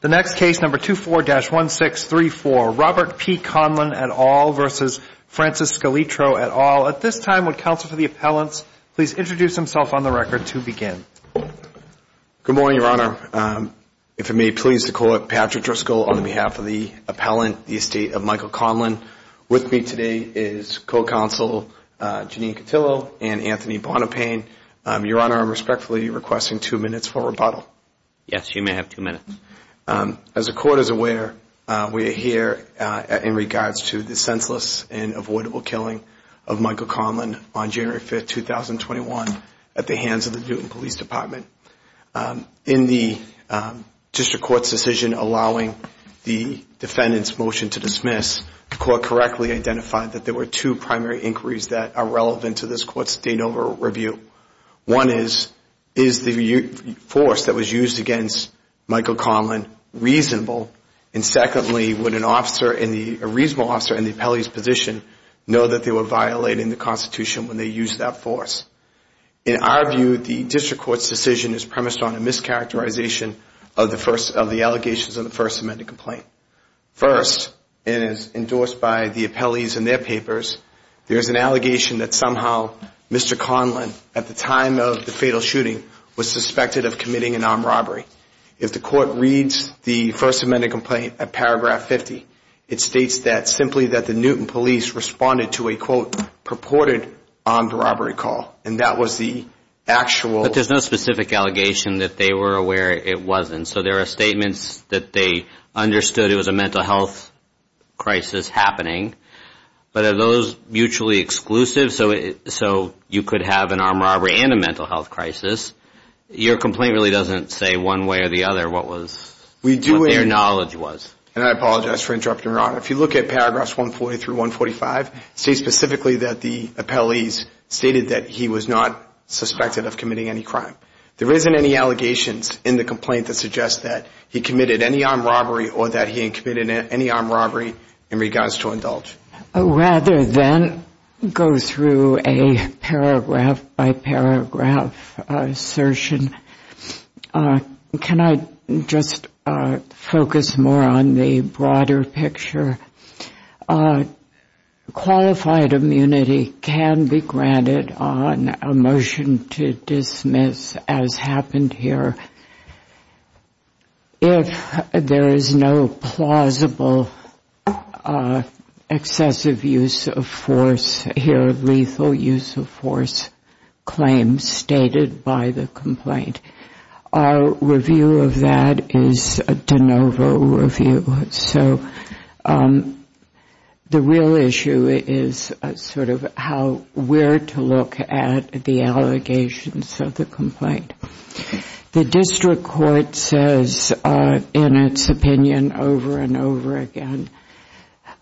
The next case, number 24-1634, Robert P. Conlon et al. versus Francis Scaltreto et al. At this time, would counsel for the appellants please introduce himself on the record to begin? Good morning, Your Honor. If it may please the court, Patrick Driscoll on behalf of the appellant, the estate of Michael Conlon. With me today is co-counsel Jeanine Cotillo and Anthony Bonapane. Your Honor, I'm respectfully requesting two minutes for rebuttal. Yes, you may have two minutes. As the court is aware, we are here in regards to the senseless and avoidable killing of Michael Conlon on January 5, 2021 at the hands of the Newton Police Department. In the district court's decision allowing the defendant's motion to dismiss, the court correctly identified that there were two primary inquiries that are relevant to this court's de novo review. One is, is the force that was used against Michael Conlon reasonable? And secondly, would a reasonable officer in the appellee's position know that they were violating the Constitution when they used that force? In our view, the district court's decision is premised on a mischaracterization of the allegations in the First Amendment complaint. First, and as endorsed by the appellees in their papers, there is an allegation that somehow Mr. Conlon, at the time of the fatal shooting, was suspected of committing an armed robbery. If the court reads the First Amendment complaint at paragraph 50, it states that simply that the Newton Police responded to a, quote, purported armed robbery call. And that was the actual. But there's no specific allegation that they were aware it wasn't. So there are statements that they understood it was a mental health crisis happening. But are those mutually exclusive? So you could have an armed robbery and a mental health crisis. Your complaint really doesn't say one way or the other what was, what their knowledge was. And I apologize for interrupting. If you look at paragraphs 140 through 145, it states specifically that the appellees stated that he was not suspected of committing any crime. There isn't any allegations in the complaint that suggests that he committed any armed robbery or that he committed any armed robbery in regards to indulge. Rather than go through a paragraph-by-paragraph assertion, can I just focus more on the broader picture? Qualified immunity can be granted on a motion to dismiss, as happened here. If there is no plausible excessive use of force here, lethal use of force claims stated by the complaint, our review of that is a de novo review. So the real issue is sort of how, where to look at the allegations of the complaint. The district court says in its opinion over and over again,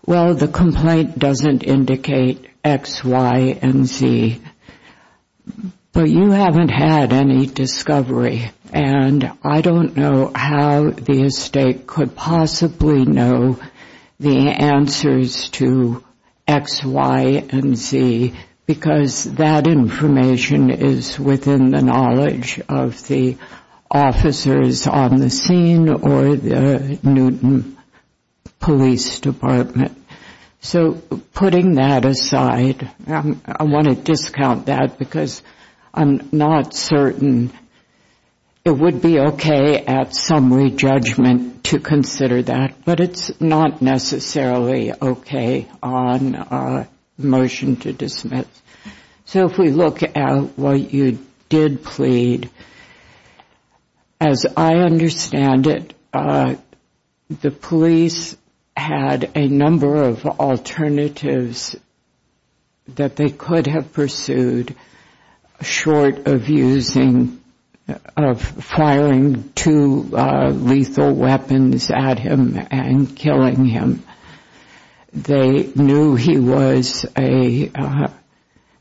well, the complaint doesn't indicate X, Y, and Z. But you haven't had any discovery. And I don't know how the estate could possibly know the answers to X, Y, and Z, because that information is within the knowledge of the officers on the scene or the Newton Police Department. So putting that aside, I want to discount that, because I'm not certain it would be OK at summary judgment to consider that. But it's not necessarily OK on a motion to dismiss. So if we look at what you did plead, as I understand it, the police had a number of alternatives that they could have pursued short of using, of firing two lethal weapons at him and killing him. They knew he was a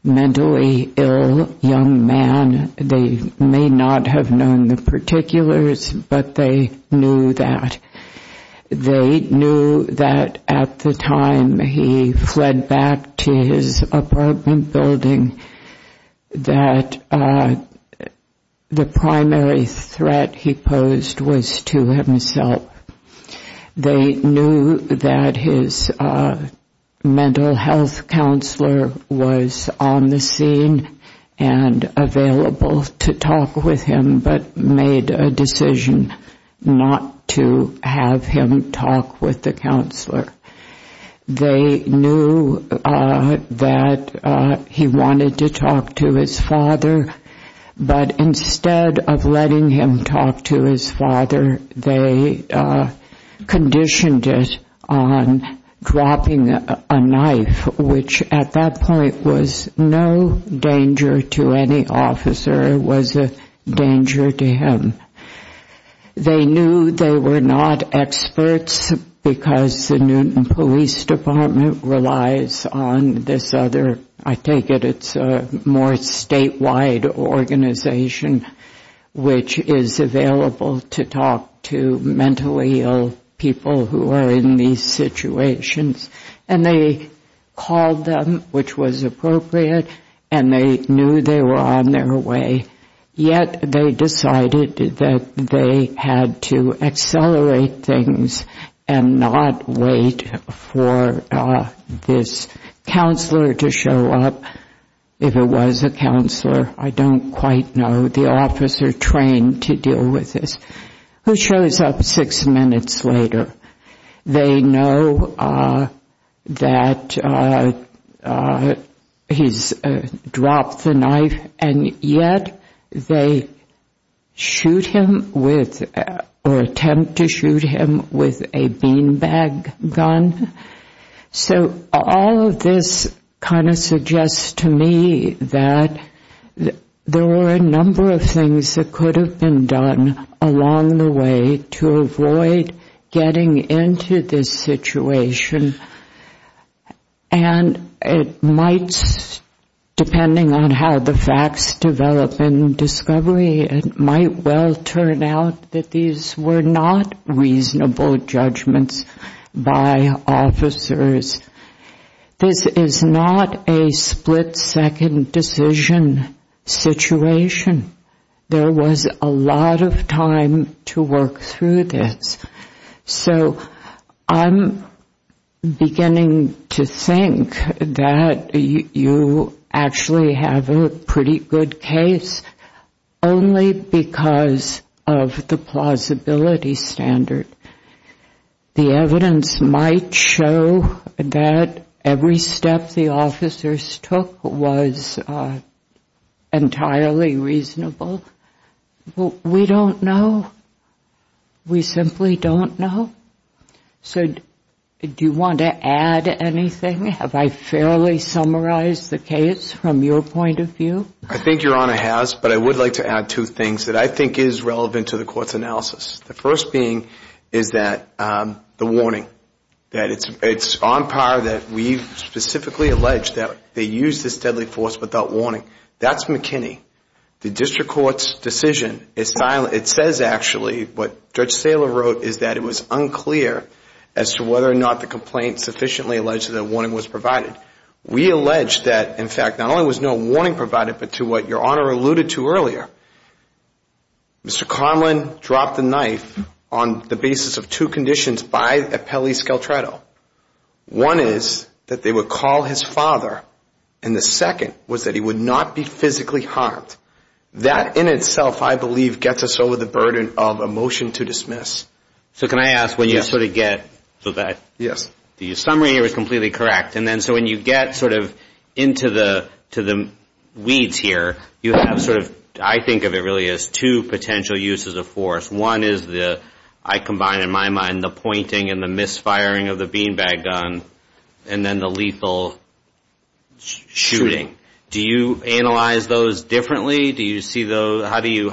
mentally ill young man. They may not have known the particulars, but they knew that. They knew that at the time he fled back to his apartment building, that the primary threat he posed was to himself. They knew that his mental health counselor was on the scene and available to talk with him, but made a decision not to have him talk with the counselor. They knew that he wanted to talk to his father. But instead of letting him talk to his father, they conditioned it on dropping a knife, which at that point was no danger to any officer. It was a danger to him. They knew they were not experts, because the Newton Police Department relies on this other, I take it it's a more statewide organization, which is available to talk to mentally ill people who are in these situations. And they called them, which was appropriate, and they knew they were on their way. Yet they decided that they had to accelerate things and not wait for this counselor to show up. If it was a counselor, I don't quite know. The officer trained to deal with this, who shows up six minutes later. They know that he's dropped the knife, and yet they attempt to shoot him with a beanbag gun. So all of this kind of suggests to me that there were a number of things that could have been done along the way to avoid getting into this situation. And it might, depending on how the facts develop in discovery, it might well turn out that these were not reasonable judgments by officers. This is not a split-second decision situation. There was a lot of time to work through this. So I'm beginning to think that you actually have a pretty good case only because of the plausibility standard. The evidence might show that every step the officers took was entirely reasonable. We don't know. We simply don't know. So do you want to add anything? Have I fairly summarized the case from your point of view? I think Your Honor has, but I would like to add two things that I think is relevant to the court's analysis. The first being is that the warning, that it's on par that we've specifically alleged that they used this deadly force without warning. That's McKinney. The district court's decision is silent. It says, actually, what Judge Saylor wrote is that it was unclear as to whether or not the complaint sufficiently alleged that a warning was provided. We allege that, in fact, not only was no warning provided, but to what Your Honor alluded to earlier, Mr. Conlon dropped the knife on the basis of two conditions by Appellee Scaltrato. One is that they would call his father, and the second was that he would not be physically harmed. That, in itself, I believe, gets us over the burden of a motion to dismiss. So can I ask, when you sort of get to that, the summary here is completely correct. And then so when you get sort of into the weeds here, you have sort of, I think of it really as two potential uses of force. One is the, I combine in my mind, the pointing and the misfiring of the beanbag gun, and then the lethal shooting. Do you analyze those differently? Do you see those, how do you,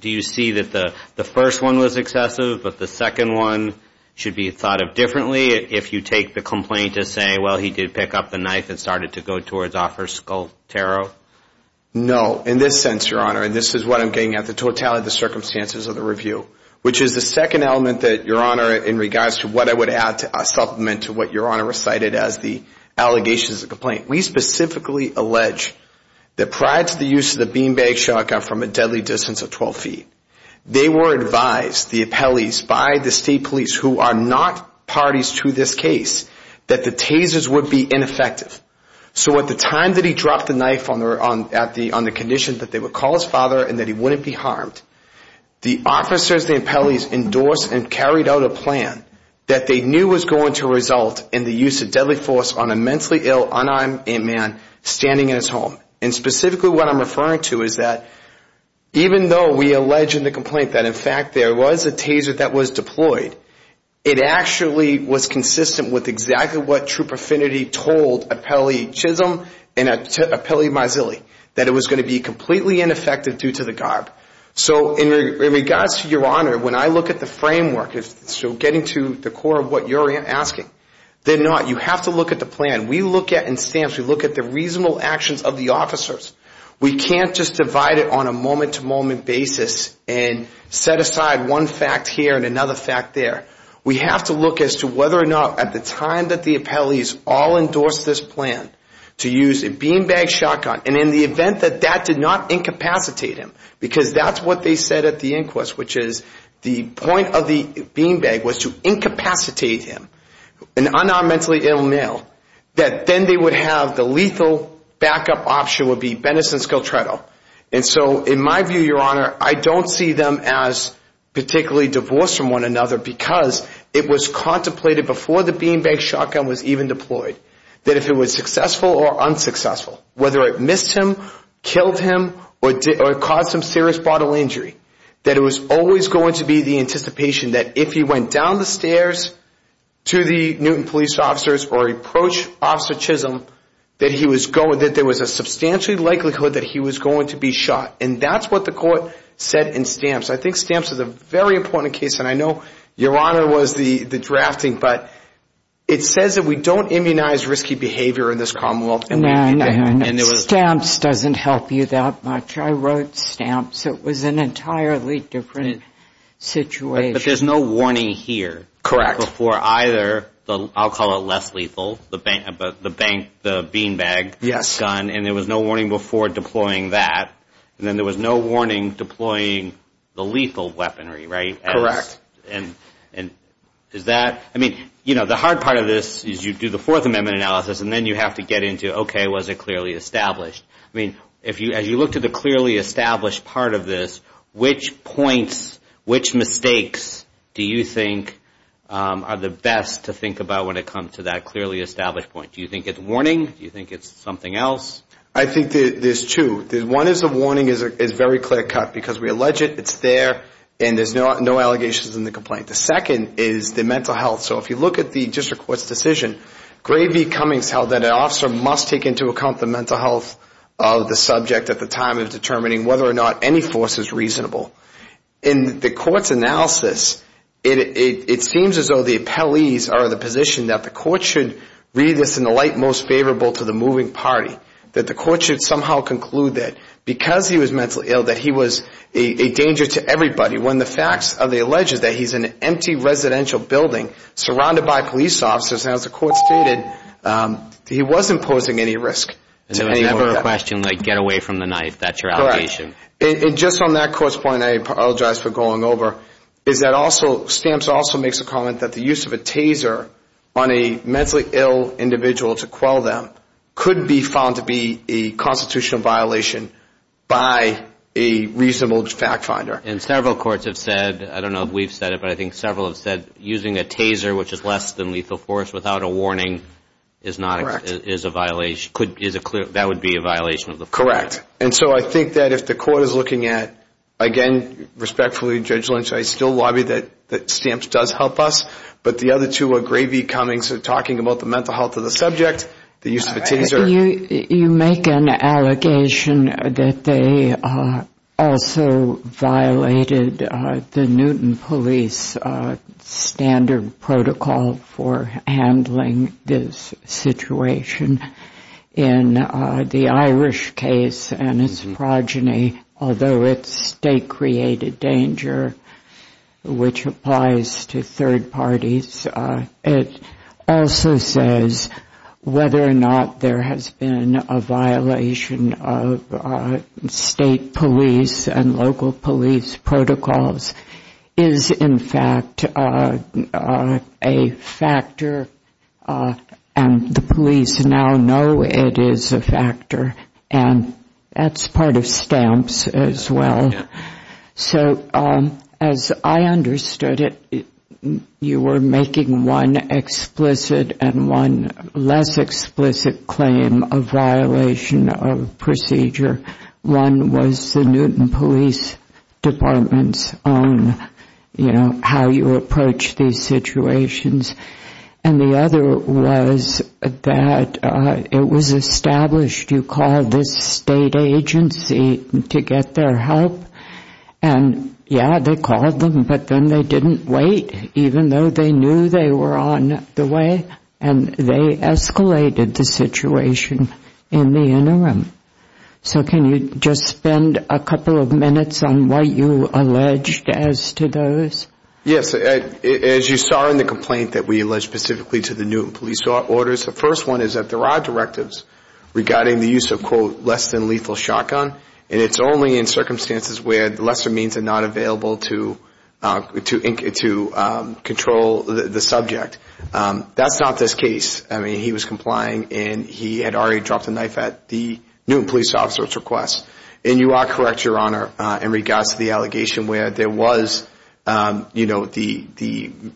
do you see that the first one was excessive, but the second one should be thought of differently, if you take the complaint to say, well, he did pick up the knife and started to go towards Officer Scaltrato? No. In this sense, Your Honor, and this is what I'm getting at, the totality of the circumstances of the review, which is the second element that, Your Honor, in regards to what I would add to supplement to what Your Honor recited as the allegations of the complaint, we specifically allege that prior to the use of the beanbag shotgun from a deadly distance of 12 feet, they were advised, the appellees by the state police, who are not parties to this case, that the tasers would be ineffective. So at the time that he dropped the knife on the condition that they would call his father and that he wouldn't be harmed, the officers, the appellees, endorsed and carried out a plan that they knew was going to result in the use of deadly force on a mentally ill, unarmed man standing in his home. And specifically, what I'm referring to is that even though we allege in the complaint that, in fact, there was a taser that was deployed, it actually was consistent with exactly what Troop Affinity told Appellee Chisholm and Appellee Mazzilli, that it was going to be completely ineffective due to the garb. So in regards to Your Honor, when I look at the framework, so getting to the core of what you're asking, they're not, you have to look at the plan. We look at, in stamps, we look at the reasonable actions of the officers. We can't just divide it on a moment-to-moment basis and set aside one fact here and another fact there. We have to look as to whether or not, at the time that the appellees all endorsed this plan, to use a beanbag shotgun. And in the event that that did not incapacitate him, because that's what they said at the inquest, which is the point of the beanbag was to incapacitate him, an unarmed, mentally ill male, that then they would have the lethal backup option would be Venice and Scaltretto. And so in my view, Your Honor, I don't see them as particularly divorced from one another because it was contemplated before the beanbag shotgun was even deployed that if it was successful or unsuccessful, whether it missed him, killed him, or caused some serious bodily injury, that it was always going to be the anticipation that if he went down the stairs to the Newton police officers or approached Officer Chisholm, that there was a substantial likelihood that he was going to be shot. And that's what the court said in stamps. I think stamps is a very important case. And I know Your Honor was the drafting, but it says that we don't immunize risky behavior in this commonwealth. No, no, no. Stamps doesn't help you that much. I wrote stamps. It was an entirely different situation. But there's no warning here before either the, I'll call it less lethal, the beanbag gun. And there was no warning before deploying that. And then there was no warning deploying the lethal weaponry, right? Correct. And is that? The hard part of this is you do the Fourth Amendment analysis, and then you have to get into, OK, was it clearly established? As you look to the clearly established part of this, which points, which mistakes do you think are the best to think about when it comes to that clearly established point? Do you think it's warning? Do you think it's something else? I think there's two. One is the warning is very clear cut. Because we allege it, it's there, and there's no allegations in the complaint. The second is the mental health. So if you look at the district court's decision, Gray v. Cummings held that an officer must take into account the mental health of the subject at the time of determining whether or not any force is reasonable. In the court's analysis, it seems as though the appellees are of the position that the court should read this in the light most favorable to the moving party. That the court should somehow conclude that because he was mentally ill, that he was a danger to everybody. When the facts of the alleges that he's in an empty residential building surrounded by police officers, as the court stated, he wasn't posing any risk. So it's never a question like, get away from the knife. That's your allegation. And just on that court's point, I apologize for going over, is that Stamps also makes a comment that the use of a taser on a mentally ill individual to quell them could be found to be a constitutional violation by a reasonable fact finder. And several courts have said, I don't know if we've said it, but I think several have said, using a taser, which is less than lethal force without a warning, is a violation. That would be a violation of the fact. And so I think that if the court is looking at, again, respectfully, Judge Lynch, I still lobby that Stamps does help us. But the other two are gravy comings of talking about the mental health of the subject, the use of a taser. You make an allegation that they also violated the Newton police standard protocol for handling this situation. In the Irish case and its progeny, although it's state-created danger, which applies to third parties, it also says whether or not there has been a violation of state police and local police protocols is, in fact, a factor. And the police now know it is a factor. And that's part of Stamps as well. So as I understood it, you were making one explicit and one less explicit claim of violation of procedure. One was the Newton police department's own, how you approach these situations. And the other was that it was established. You called this state agency to get their help. And yeah, they called them. But then they didn't wait, even though they knew they were on the way. And they escalated the situation in the interim. So can you just spend a couple of minutes on what you alleged as to those? Yes, as you saw in the complaint that we alleged specifically to the Newton police orders, the first one is that there are directives regarding the use of, quote, less than lethal shotgun. And it's only in circumstances where lesser means are not available to control the subject. That's not this case. I mean, he was complying. And he had already dropped a knife at the Newton police officer's request. And you are correct, Your Honor, in regards to the allegation where the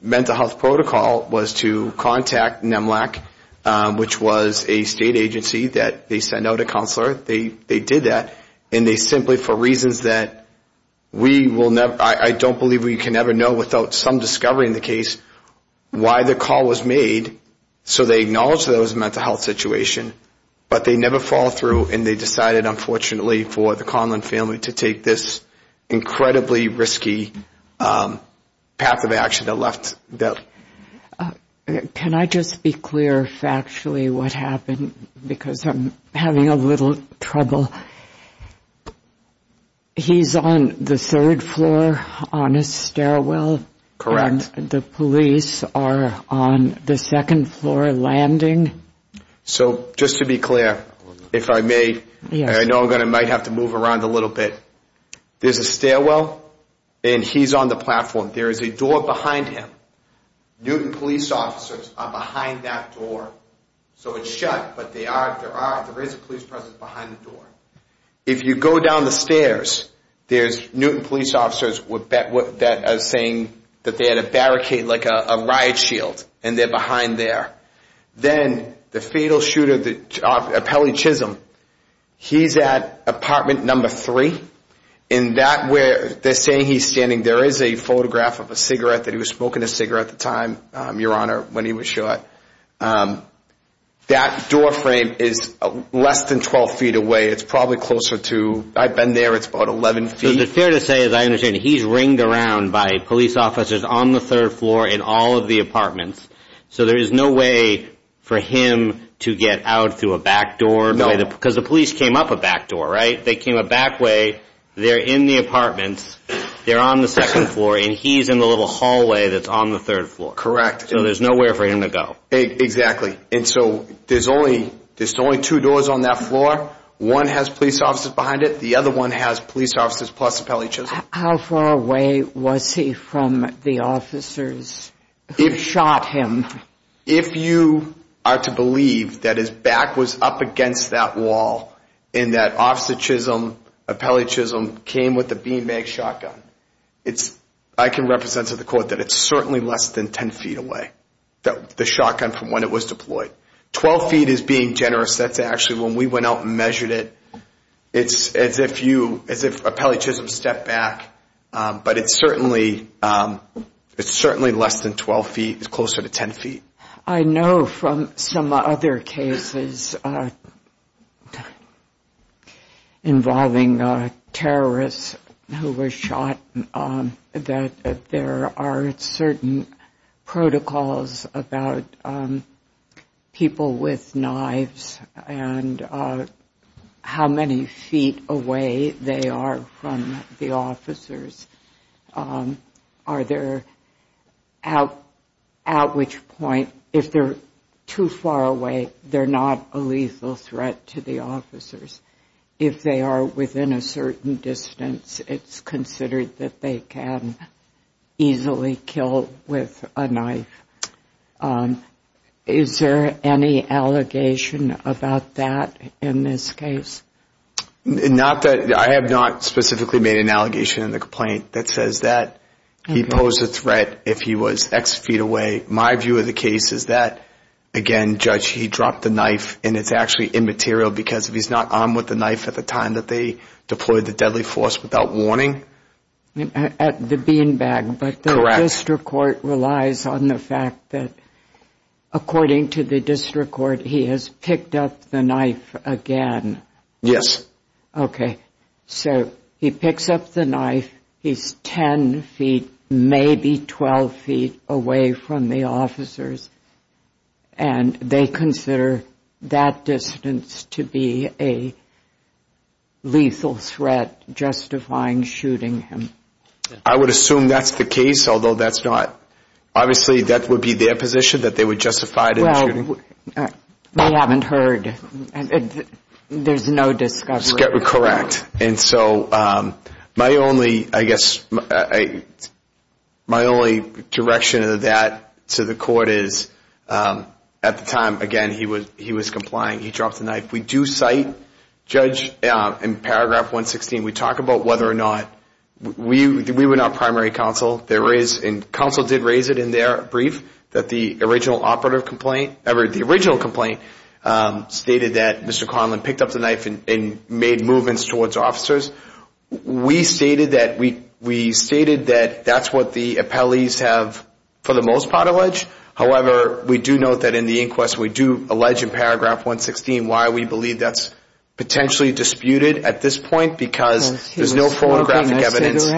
mental health protocol was to contact NMLAC, which was a state agency that they sent out a counselor. They did that. And they simply, for reasons that we will never, I don't believe we can ever know without some discovery in the case, why the call was made. So they acknowledged that it was a mental health situation. But they never followed through. And they decided, unfortunately, for the Conlon family to take this incredibly risky path of action that left them. Can I just be clear factually what happened? Because I'm having a little trouble. He's on the third floor on a stairwell. Correct. The police are on the second floor landing. So just to be clear, if I may, I know I might have to move around a little bit. There's a stairwell. And he's on the platform. There is a door behind him. Newton police officers are behind that door. So it's shut. But there is a police presence behind the door. If you go down the stairs, there's Newton police officers that are saying that they had a barricade, like a riot shield. And they're behind there. Then the fatal shooter, the appellee Chisholm, he's at apartment number three. In that where they're saying he's standing, there is a photograph of a cigarette that he was smoking a cigarette at the time, Your Honor, when he was shot. That doorframe is less than 12 feet away. It's probably closer to, I've been there. It's about 11 feet. So it's fair to say, as I understand it, he's ringed around by police officers on the third floor in all of the apartments. So there is no way for him to get out through a back door. Because the police came up a back door, right? They came a back way. They're in the apartments. They're on the second floor. And he's in the little hallway that's on the third floor. Correct. So there's nowhere for him to go. Exactly. And so there's only two doors on that floor. One has police officers behind it. The other one has police officers plus appellee Chisholm. How far away was he from the officers who shot him? If you are to believe that his back was up against that wall and that officer Chisholm, appellee Chisholm, came with a beanbag shotgun, I can represent to the court that it's certainly less than 10 feet away, the shotgun from when it was deployed. 12 feet is being generous. That's actually when we went out and measured it. It's as if you, as if appellee Chisholm stepped back. But it's certainly less than 12 feet. It's closer to 10 feet. I know from some other cases involving terrorists who were shot that there are certain protocols about people with knives and how many feet away they are from the officers. Are there, at which point, if they're too far away, they're not a lethal threat to the officers. If they are within a certain distance, it's considered that they can easily kill with a knife. Is there any allegation about that in this case? I have not specifically made an allegation in the complaint that says that he posed a threat if he was x feet away. My view of the case is that, again, Judge, he dropped the knife. And it's actually immaterial because if he's not armed with the knife at the time that they deployed the deadly force without warning. At the beanbag, but the district court relies on the fact that, according to the district court, he has picked up the knife again. Yes. OK. So he picks up the knife. He's 10 feet, maybe 12 feet away from the officers. And they consider that distance to be a lethal threat justifying shooting him. I would assume that's the case, although that's not. Obviously, that would be their position, that they would justify the shooting. Well, they haven't heard. There's no discovery. Correct. And so my only, I guess, my only direction of that to the court is, at the time, again, he was complying. He dropped the knife. We do cite, Judge, in paragraph 116, we talk about whether or not we were not primary counsel. There is, and counsel did raise it in their brief, that the original complaint stated that Mr. Conlin picked up the knife and made movements towards officers. We stated that that's what the appellees have, for the most part, alleged. However, we do note that in the inquest, we do allege in paragraph 116 why we believe that's potentially disputed at this point, because there's no photographic evidence.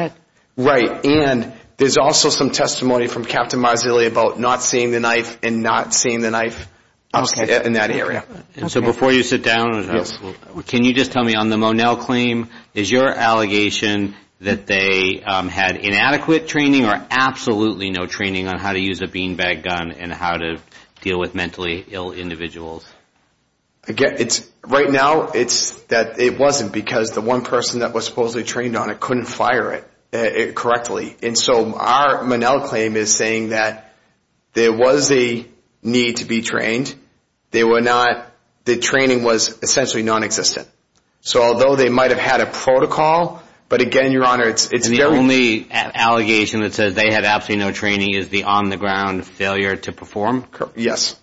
Right, and there's also some testimony from Captain Marzulli about not seeing the knife and not seeing the knife in that area. So before you sit down, can you just tell me, on the Monell claim, is your allegation that they had inadequate training or absolutely no training on how to use a beanbag gun and how to deal with mentally ill individuals? Right now, it's that it wasn't, because the one person that was supposedly trained on it couldn't fire it correctly. And so our Monell claim is saying that there was a need to be trained. The training was essentially non-existent. So although they might have had a protocol, but again, Your Honor, it's very- The only allegation that says they had absolutely no training is the on-the-ground failure to perform? Yes.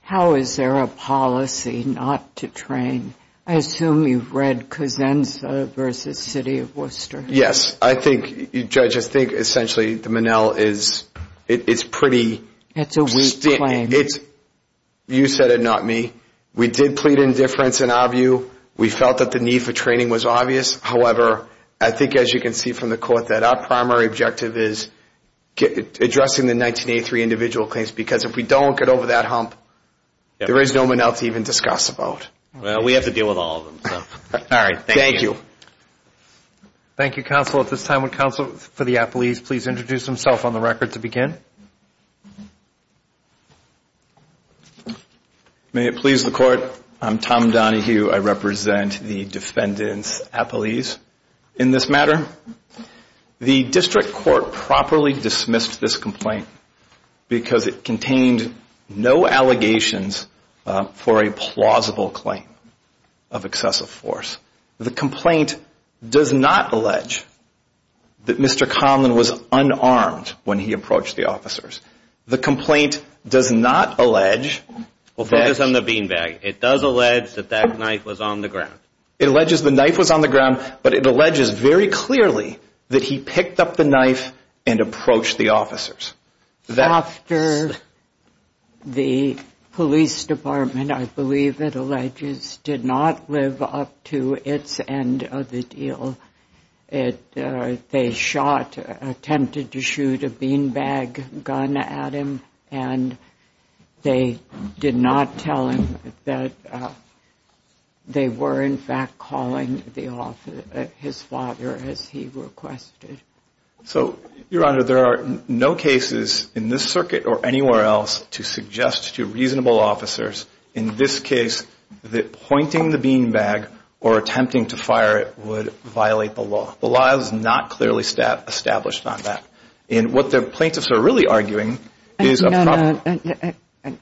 How is there a policy not to train? I assume you've read Cosenza versus City of Worcester. Yes, I think, Judge, I think essentially the Monell is pretty- It's a weak claim. You said it, not me. We did plead indifference in our view. We felt that the need for training was obvious. However, I think, as you can see from the court, that our primary objective is addressing the 1983 individual claims. Because if we don't get over that hump, there is no Monell to even discuss about. Well, we have to deal with all of them, so. All right, thank you. Thank you, counsel. At this time, would counsel for the appellees please introduce himself on the record to begin? May it please the court, I'm Tom Donahue. I represent the defendant's appellees in this matter. The district court properly dismissed this complaint because it contained no allegations for a plausible claim of excessive force. The complaint does not allege that Mr. Conlon was unarmed when he approached the officers. The complaint does not allege that- Well, focus on the beanbag. It does allege that that knife was on the ground. It alleges the knife was on the ground, but it alleges very clearly that he picked up the knife and approached the officers. After the police department, I believe it alleges, did not live up to its end of the deal. They shot, attempted to shoot a beanbag gun at him, and they did not tell him that they were, in fact, calling his father as he requested. So, Your Honor, there are no cases in this circuit or anywhere else to suggest to reasonable officers in this case that pointing the beanbag or attempting to fire it would violate the law. The law is not clearly established on that. And what the plaintiffs are really arguing is a problem- And, Your Honor,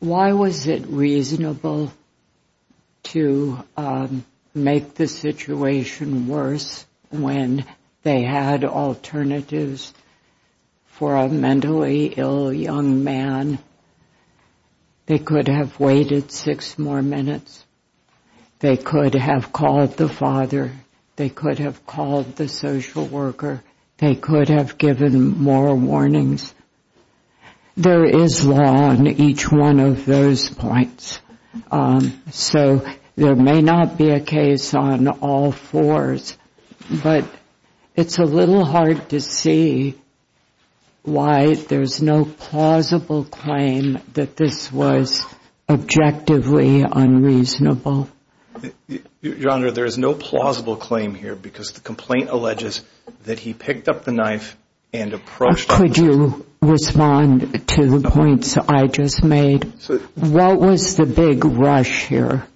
why was it reasonable to make the situation worse when they had alternatives for a mentally ill young man? They could have waited six more minutes. They could have called the father. They could have called the social worker. They could have given more warnings. There is law on each one of those points. So, there may not be a case on all fours, but it's a little hard to see why there's no plausible claim that this was objectively unreasonable. Your Honor, there is no plausible claim here because the complaint alleges that he picked up the knife and approached- Could you respond to the points I just made? What was the big rush here?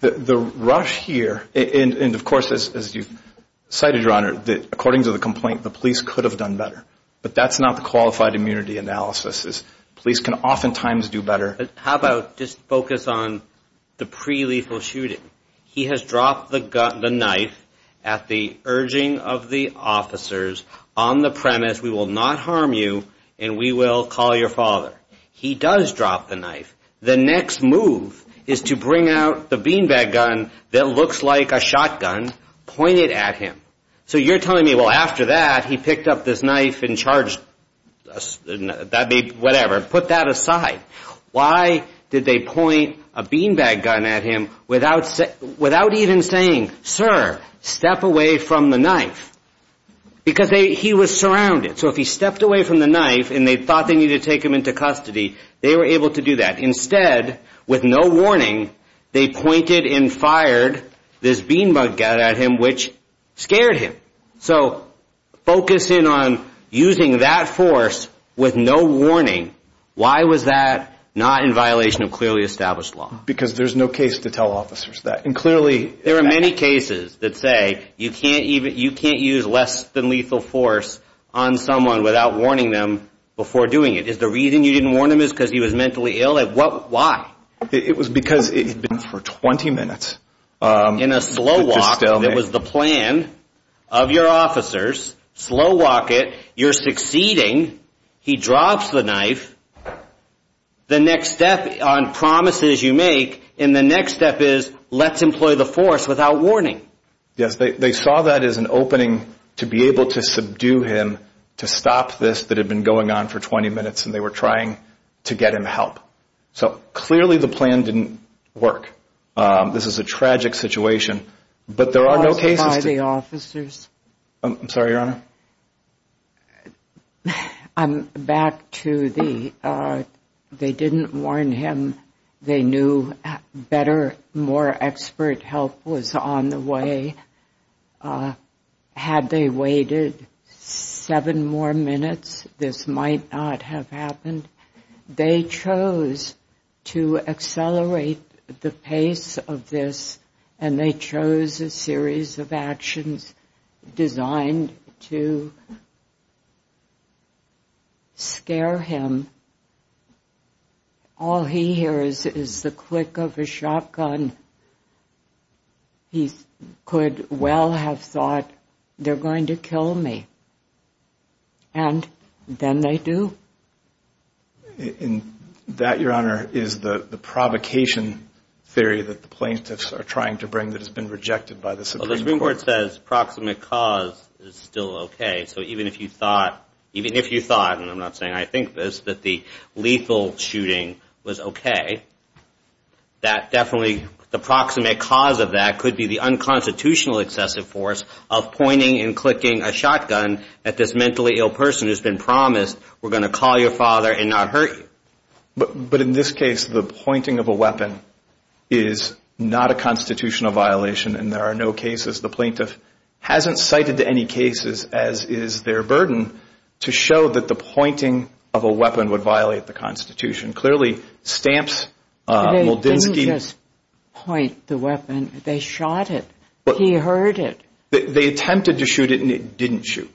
The rush here, and, of course, as you cited, Your Honor, according to the complaint, the police could have done better. But that's not the qualified immunity analysis. Police can oftentimes do better. How about just focus on the pre-lethal shooting? He has dropped the knife at the urging of the officers on the premise, we will not harm you, and we will call your father. He does drop the knife. The next move is to bring out the beanbag gun that looks like a shotgun, point it at him. So, you're telling me, well, after that, he picked up this knife and charged us, that'd be whatever, put that aside. Why did they point a beanbag gun at him without even saying, sir, step away from the knife? Because he was surrounded. So, if he stepped away from the knife and they thought they needed to take him into custody, they were able to do that. Instead, with no warning, they pointed and fired this beanbag gun at him, which scared him. So, focusing on using that force with no warning, why was that not in violation of clearly established law? Because there's no case to tell officers that. And clearly... There are many cases that say you can't use less than lethal force on someone without warning them before doing it. Is the reason you didn't warn him is because he was mentally ill? Why? It was because it had been for 20 minutes. In a slow walk, that was the plan of your officers, slow walk it, you're succeeding, he drops the knife, the next step on promises you make, and the next step is let's employ the force without warning. Yes, they saw that as an opening to be able to subdue him to stop this that had been going on for 20 minutes and they were trying to get him help. So, clearly the plan didn't work. This is a tragic situation. But there are no cases... Also by the officers. I'm sorry, Your Honor. I'm back to the... They didn't warn him. They knew better, more expert help was on the way. Had they waited seven more minutes, this might not have happened. They chose to accelerate the pace of this and they chose a series of actions designed to scare him. All he hears is the click of a shotgun. He could well have thought, they're going to kill me. And then they do. And that, Your Honor, is the provocation theory that the plaintiffs are trying to bring that has been rejected by the Supreme Court. The Supreme Court says proximate cause is still okay. So even if you thought, even if you thought, and I'm not saying I think this, that the lethal shooting was okay, that definitely the proximate cause of that could be the unconstitutional excessive force of pointing and clicking a shotgun at this mentally ill person who's been promised, we're going to call your father and not hurt you. But in this case, the pointing of a weapon is not a constitutional violation and there are no cases the plaintiff hasn't cited to any cases, as is their burden, to show that the pointing of a weapon would violate the Constitution. Clearly, Stamps, Muldinski- They didn't just point the weapon, they shot it. He heard it. They attempted to shoot it and it didn't shoot.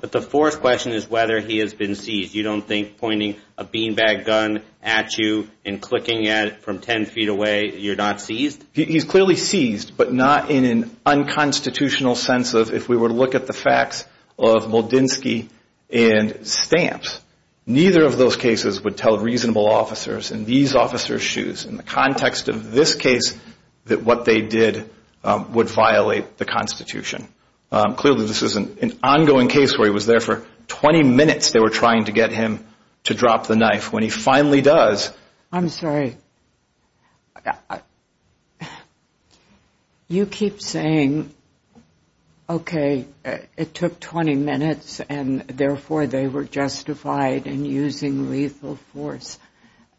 But the fourth question is whether he has been seized. You don't think pointing a beanbag gun at you and clicking at it from 10 feet away, you're not seized? He's clearly seized, but not in an unconstitutional sense of if we were to look at the facts of Muldinski and Stamps, neither of those cases would tell reasonable officers in these officers' shoes, in the context of this case, that what they did would violate the Constitution. Clearly, this is an ongoing case where he was there for 20 minutes they were trying to get him to drop the knife. When he finally does- I'm sorry. You keep saying, okay, it took 20 minutes and therefore they were justified in using lethal force.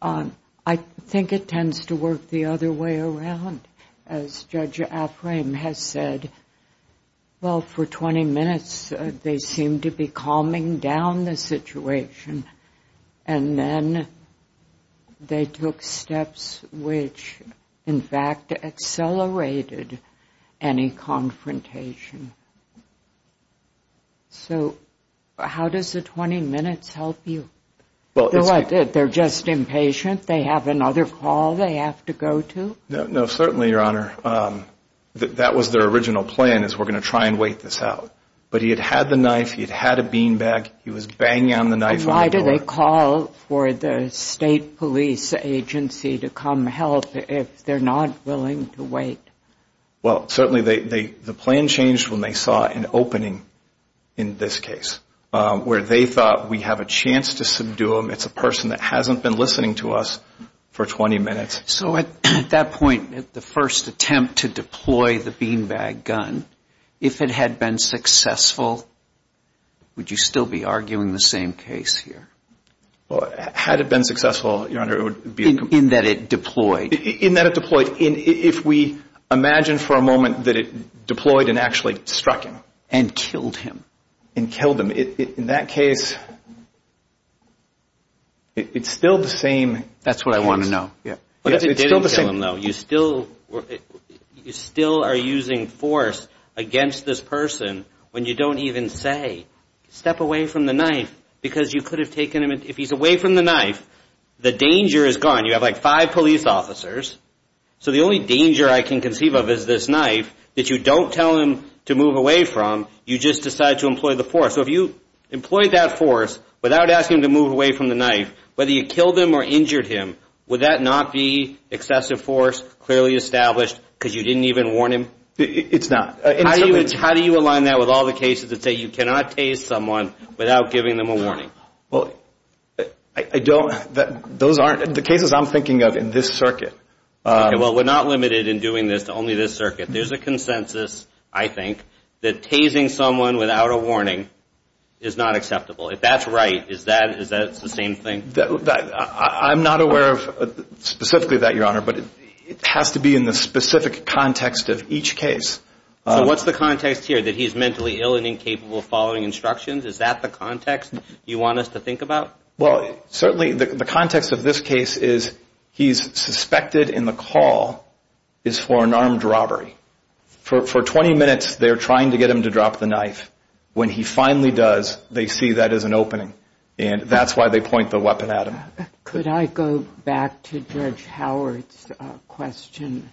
I think it tends to work the other way around, as Judge Afframe has said. Well, for 20 minutes, they seemed to be calming down the situation. And then they took steps which, in fact, accelerated any confrontation. So how does the 20 minutes help you? Well, it's- They're just impatient? They have another call they have to go to? No, certainly, Your Honor. That was their original plan, is we're going to try and wait this out. But he had had the knife, he had had a beanbag, he was banging on the knife on the door. Why do they call for the state police agency to come help if they're not willing to wait? Well, certainly, the plan changed when they saw an opening in this case, where they thought we have a chance to subdue him. It's a person that hasn't been listening to us for 20 minutes. So at that point, the first attempt to deploy the beanbag gun, if it had been successful, would you still be arguing the same case here? Well, had it been successful, Your Honor, it would be- In that it deployed? In that it deployed. If we imagine for a moment that it deployed and actually struck him and killed him, and killed him, in that case, it's still the same case. That's what I want to know, yeah. But if it didn't kill him, though, you still are using force against this person when you don't even say, step away from the knife, because you could have taken him, if he's away from the knife, the danger is gone. You have like five police officers. So the only danger I can conceive of is this knife, that you don't tell him to move away from, you just decide to employ the force. So if you employed that force without asking him to move away from the knife, whether you killed him or injured him, would that not be excessive force, clearly established, because you didn't even warn him? It's not. How do you align that with all the cases that say you cannot tase someone without giving them a warning? Well, I don't, those aren't, the cases I'm thinking of in this circuit. Well, we're not limited in doing this, only this circuit. There's a consensus, I think, that tasing someone without a warning is not acceptable. If that's right, is that the same thing? I'm not aware of specifically that, Your Honor, but it has to be in the specific context of each case. So what's the context here, that he's mentally ill and incapable of following instructions? Is that the context you want us to think about? Well, certainly the context of this case is he's suspected in the call is for an armed robbery. For 20 minutes, they're trying to get him to drop the knife. When he finally does, they see that as an opening, and that's why they point the weapon at him. Could I go back to Judge Howard's question?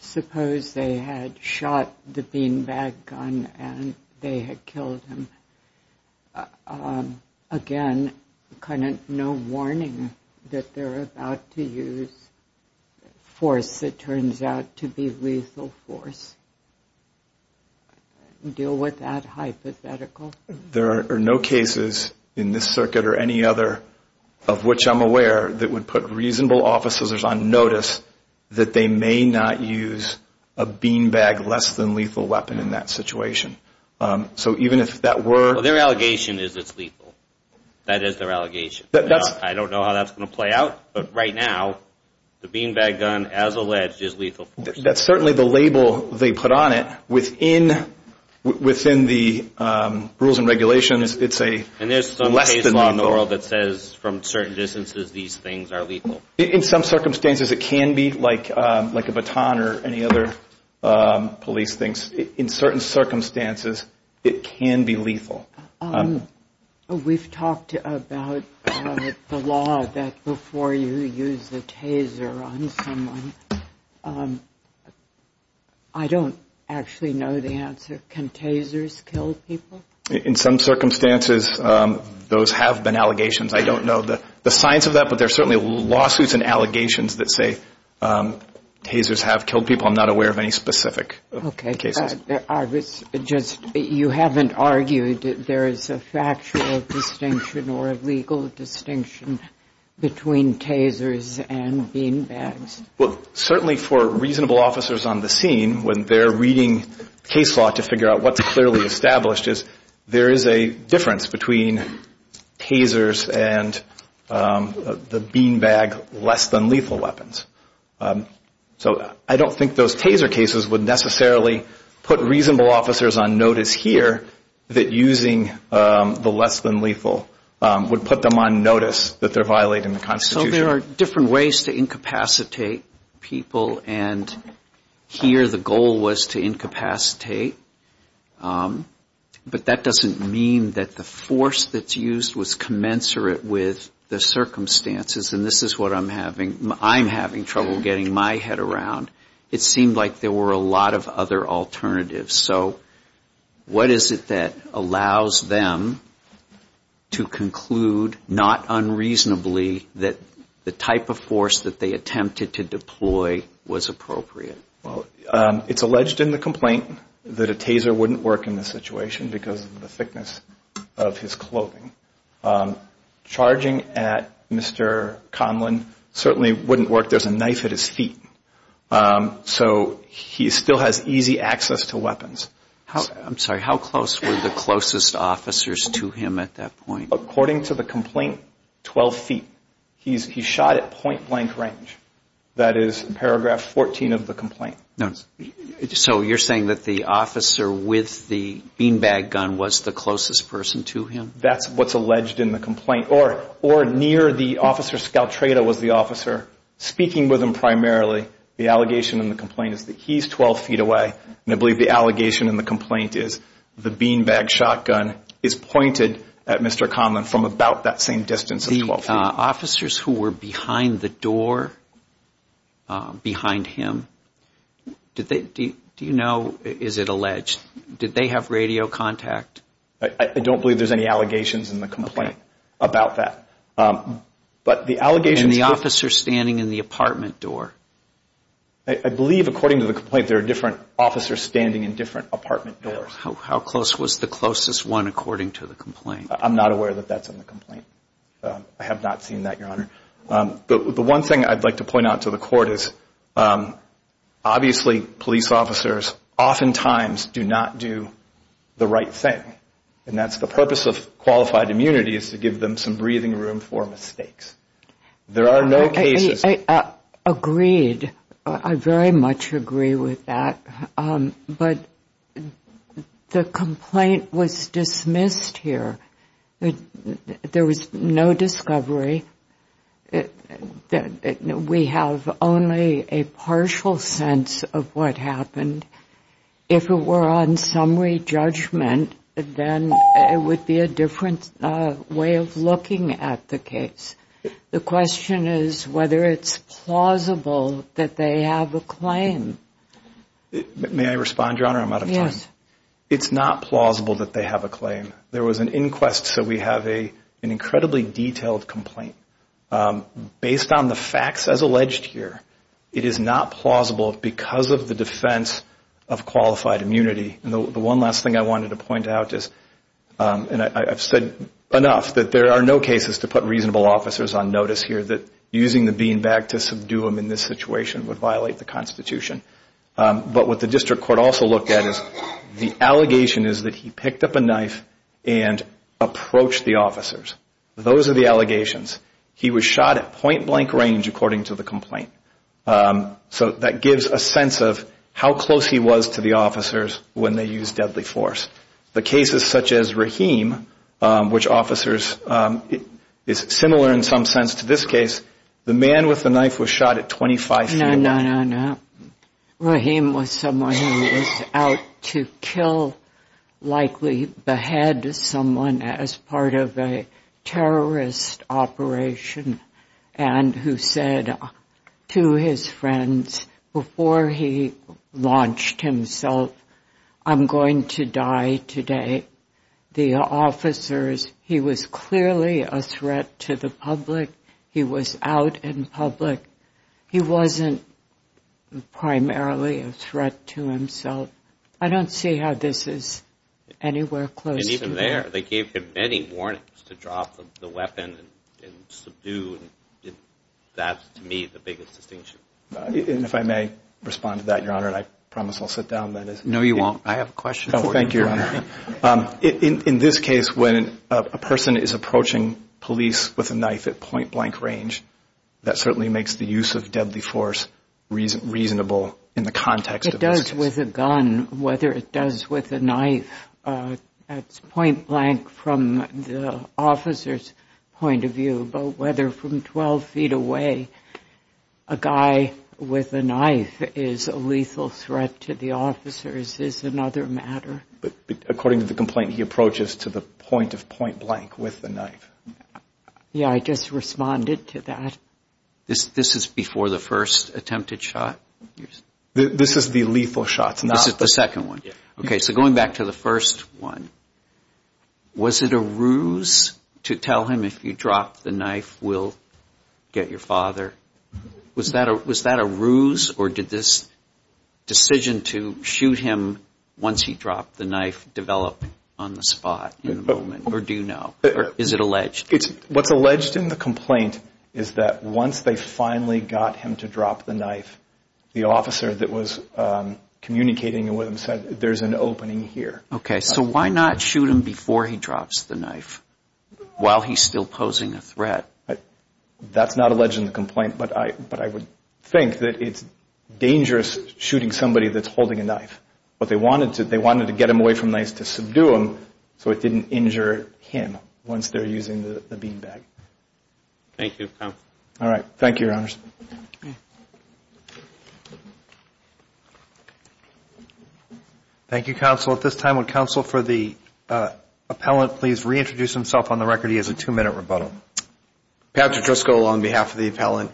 Suppose they had shot the beanbag gun and they had killed him. Again, no warning that they're about to use force that turns out to be lethal force. Deal with that hypothetical. There are no cases in this circuit or any other of which I'm aware that would put reasonable officers on notice that they may not use a beanbag less than lethal weapon in that situation. So even if that were... Well, their allegation is it's lethal. That is their allegation. I don't know how that's gonna play out, but right now, the beanbag gun as alleged is lethal force. That's certainly the label they put on it within the rules and regulations. It's a less than lethal. And there's some case law in the world that says from certain distances, these things are lethal. In some circumstances, it can be like a baton or any other police things. In certain circumstances, it can be lethal. We've talked about the law that before you use the taser on someone, I don't actually know the answer. Can tasers kill people? In some circumstances, those have been allegations. I don't know the science of that, but there are certainly lawsuits and allegations that say tasers have killed people. I'm not aware of any specific cases. I was just... You haven't argued that there is a factual distinction or a legal distinction between tasers and beanbags? Well, certainly for reasonable officers on the scene, when they're reading case law to figure out what's clearly established is there is a difference between tasers and the beanbag less than lethal weapons. So I don't think those taser cases would necessarily put reasonable officers on notice here that using the less than lethal would put them on notice that they're violating the Constitution. So there are different ways to incapacitate people and here the goal was to incapacitate, but that doesn't mean that the force that's used was commensurate with the circumstances and this is what I'm having, I'm having trouble getting my head around. It seemed like there were a lot of other alternatives. So what is it that allows them to conclude, not unreasonably, that the type of force that they attempted to deploy was appropriate? Well, it's alleged in the complaint that a taser wouldn't work in this situation because of the thickness of his clothing. Charging at Mr. Conlon certainly wouldn't work. There's a knife at his feet. So he still has easy access to weapons. I'm sorry, how close were the closest officers to him at that point? According to the complaint, 12 feet. He shot at point blank range. That is paragraph 14 of the complaint. So you're saying that the officer with the beanbag gun was the closest person to him? That's what's alleged in the complaint. Or near the officer, Scaltreda was the officer, speaking with him primarily. The allegation in the complaint is that he's 12 feet away and I believe the allegation in the complaint is the beanbag shotgun is pointed at Mr. Conlon from about that same distance of 12 feet. Officers who were behind the door, behind him, do you know, is it alleged? Did they have radio contact? I don't believe there's any allegations in the complaint about that. But the allegations- And the officer standing in the apartment door? I believe according to the complaint, there are different officers standing in different apartment doors. How close was the closest one according to the complaint? I'm not aware that that's in the complaint. I have not seen that, Your Honor. The one thing I'd like to point out to the court is obviously police officers oftentimes do not do the right thing. And that's the purpose of qualified immunity is to give them some breathing room for mistakes. There are no cases- Agreed, I very much agree with that. But the complaint was dismissed here. There was no discovery. We have only a partial sense of what happened. If it were on summary judgment, then it would be a different way of looking at the case. The question is whether it's plausible that they have a claim. May I respond, Your Honor? I'm out of time. Yes. It's not plausible that they have a claim. There was an inquest, so we have an incredibly detailed complaint. Based on the facts as alleged here, it is not plausible because of the defense of qualified immunity. And the one last thing I wanted to point out is, and I've said enough, that there are no cases to put reasonable officers on notice here that using the beanbag to subdue them in this situation would violate the Constitution. But what the district court also looked at is the allegation is that he picked up a knife and approached the officers. Those are the allegations. He was shot at point blank range according to the complaint. So that gives a sense of how close he was to the officers when they used deadly force. The cases such as Rahim, which officers is similar in some sense to this case, the man with the knife was shot at 25 feet away. No, no, no, no. Rahim was someone who was out to kill, likely behead someone as part of a terrorist operation and who said to his friends before he launched himself, I'm going to die today. The officers, he was clearly a threat to the public. He was out in public. He wasn't primarily a threat to himself. I don't see how this is anywhere close. And even there, they gave him many warnings to drop the weapon and subdue. That's to me the biggest distinction. And if I may respond to that, Your Honor, and I promise I'll sit down then. No, you won't. I have a question. Thank you, Your Honor. In this case, when a person is approaching police with a knife at point blank range, that certainly makes the use of deadly force reasonable in the context of this case. It does with a gun, whether it does with a knife at point blank from the officer's point of view, but whether from 12 feet away, a guy with a knife is a lethal threat to the officers is another matter. But according to the complaint, he approaches to the point of point blank with the knife. Yeah, I just responded to that. This is before the first attempted shot? This is the lethal shots. This is the second one. Okay, so going back to the first one, was it a ruse to tell him if you drop the knife, we'll get your father? Was that a ruse or did this decision to shoot him once he dropped the knife develop on the spot in the moment, or do you know? Is it alleged? What's alleged in the complaint is that once they finally got him to drop the knife, the officer that was communicating with him said there's an opening here. Okay, so why not shoot him before he drops the knife while he's still posing a threat? That's not alleged in the complaint, but I would think that it's dangerous shooting somebody that's holding a knife. But they wanted to get him away from knives to subdue him so it didn't injure him once they're using the bean bag. Thank you, counsel. All right, thank you, your honors. Thank you, counsel. At this time, would counsel for the appellant please reintroduce himself on the record? He has a two minute rebuttal. Patrick Driscoll on behalf of the appellant.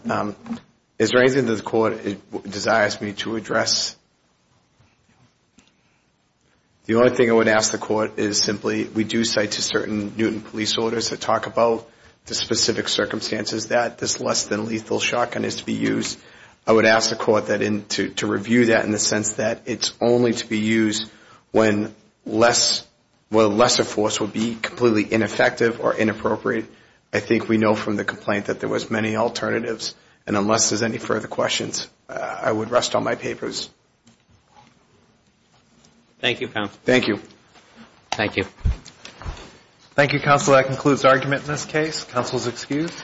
Is there anything that the court desires me to address? The only thing I would ask the court is simply, we do cite to certain Newton police orders that talk about the specific circumstances that this less than lethal shotgun is to be used. I would ask the court to review that in the sense that it's only to be used when lesser force would be completely ineffective or inappropriate. I think we know from the complaint that there was many alternatives. And unless there's any further questions, I would rest on my papers. Thank you, counsel. Thank you. Thank you. Thank you, counsel. That concludes argument in this case. Counsel is excused.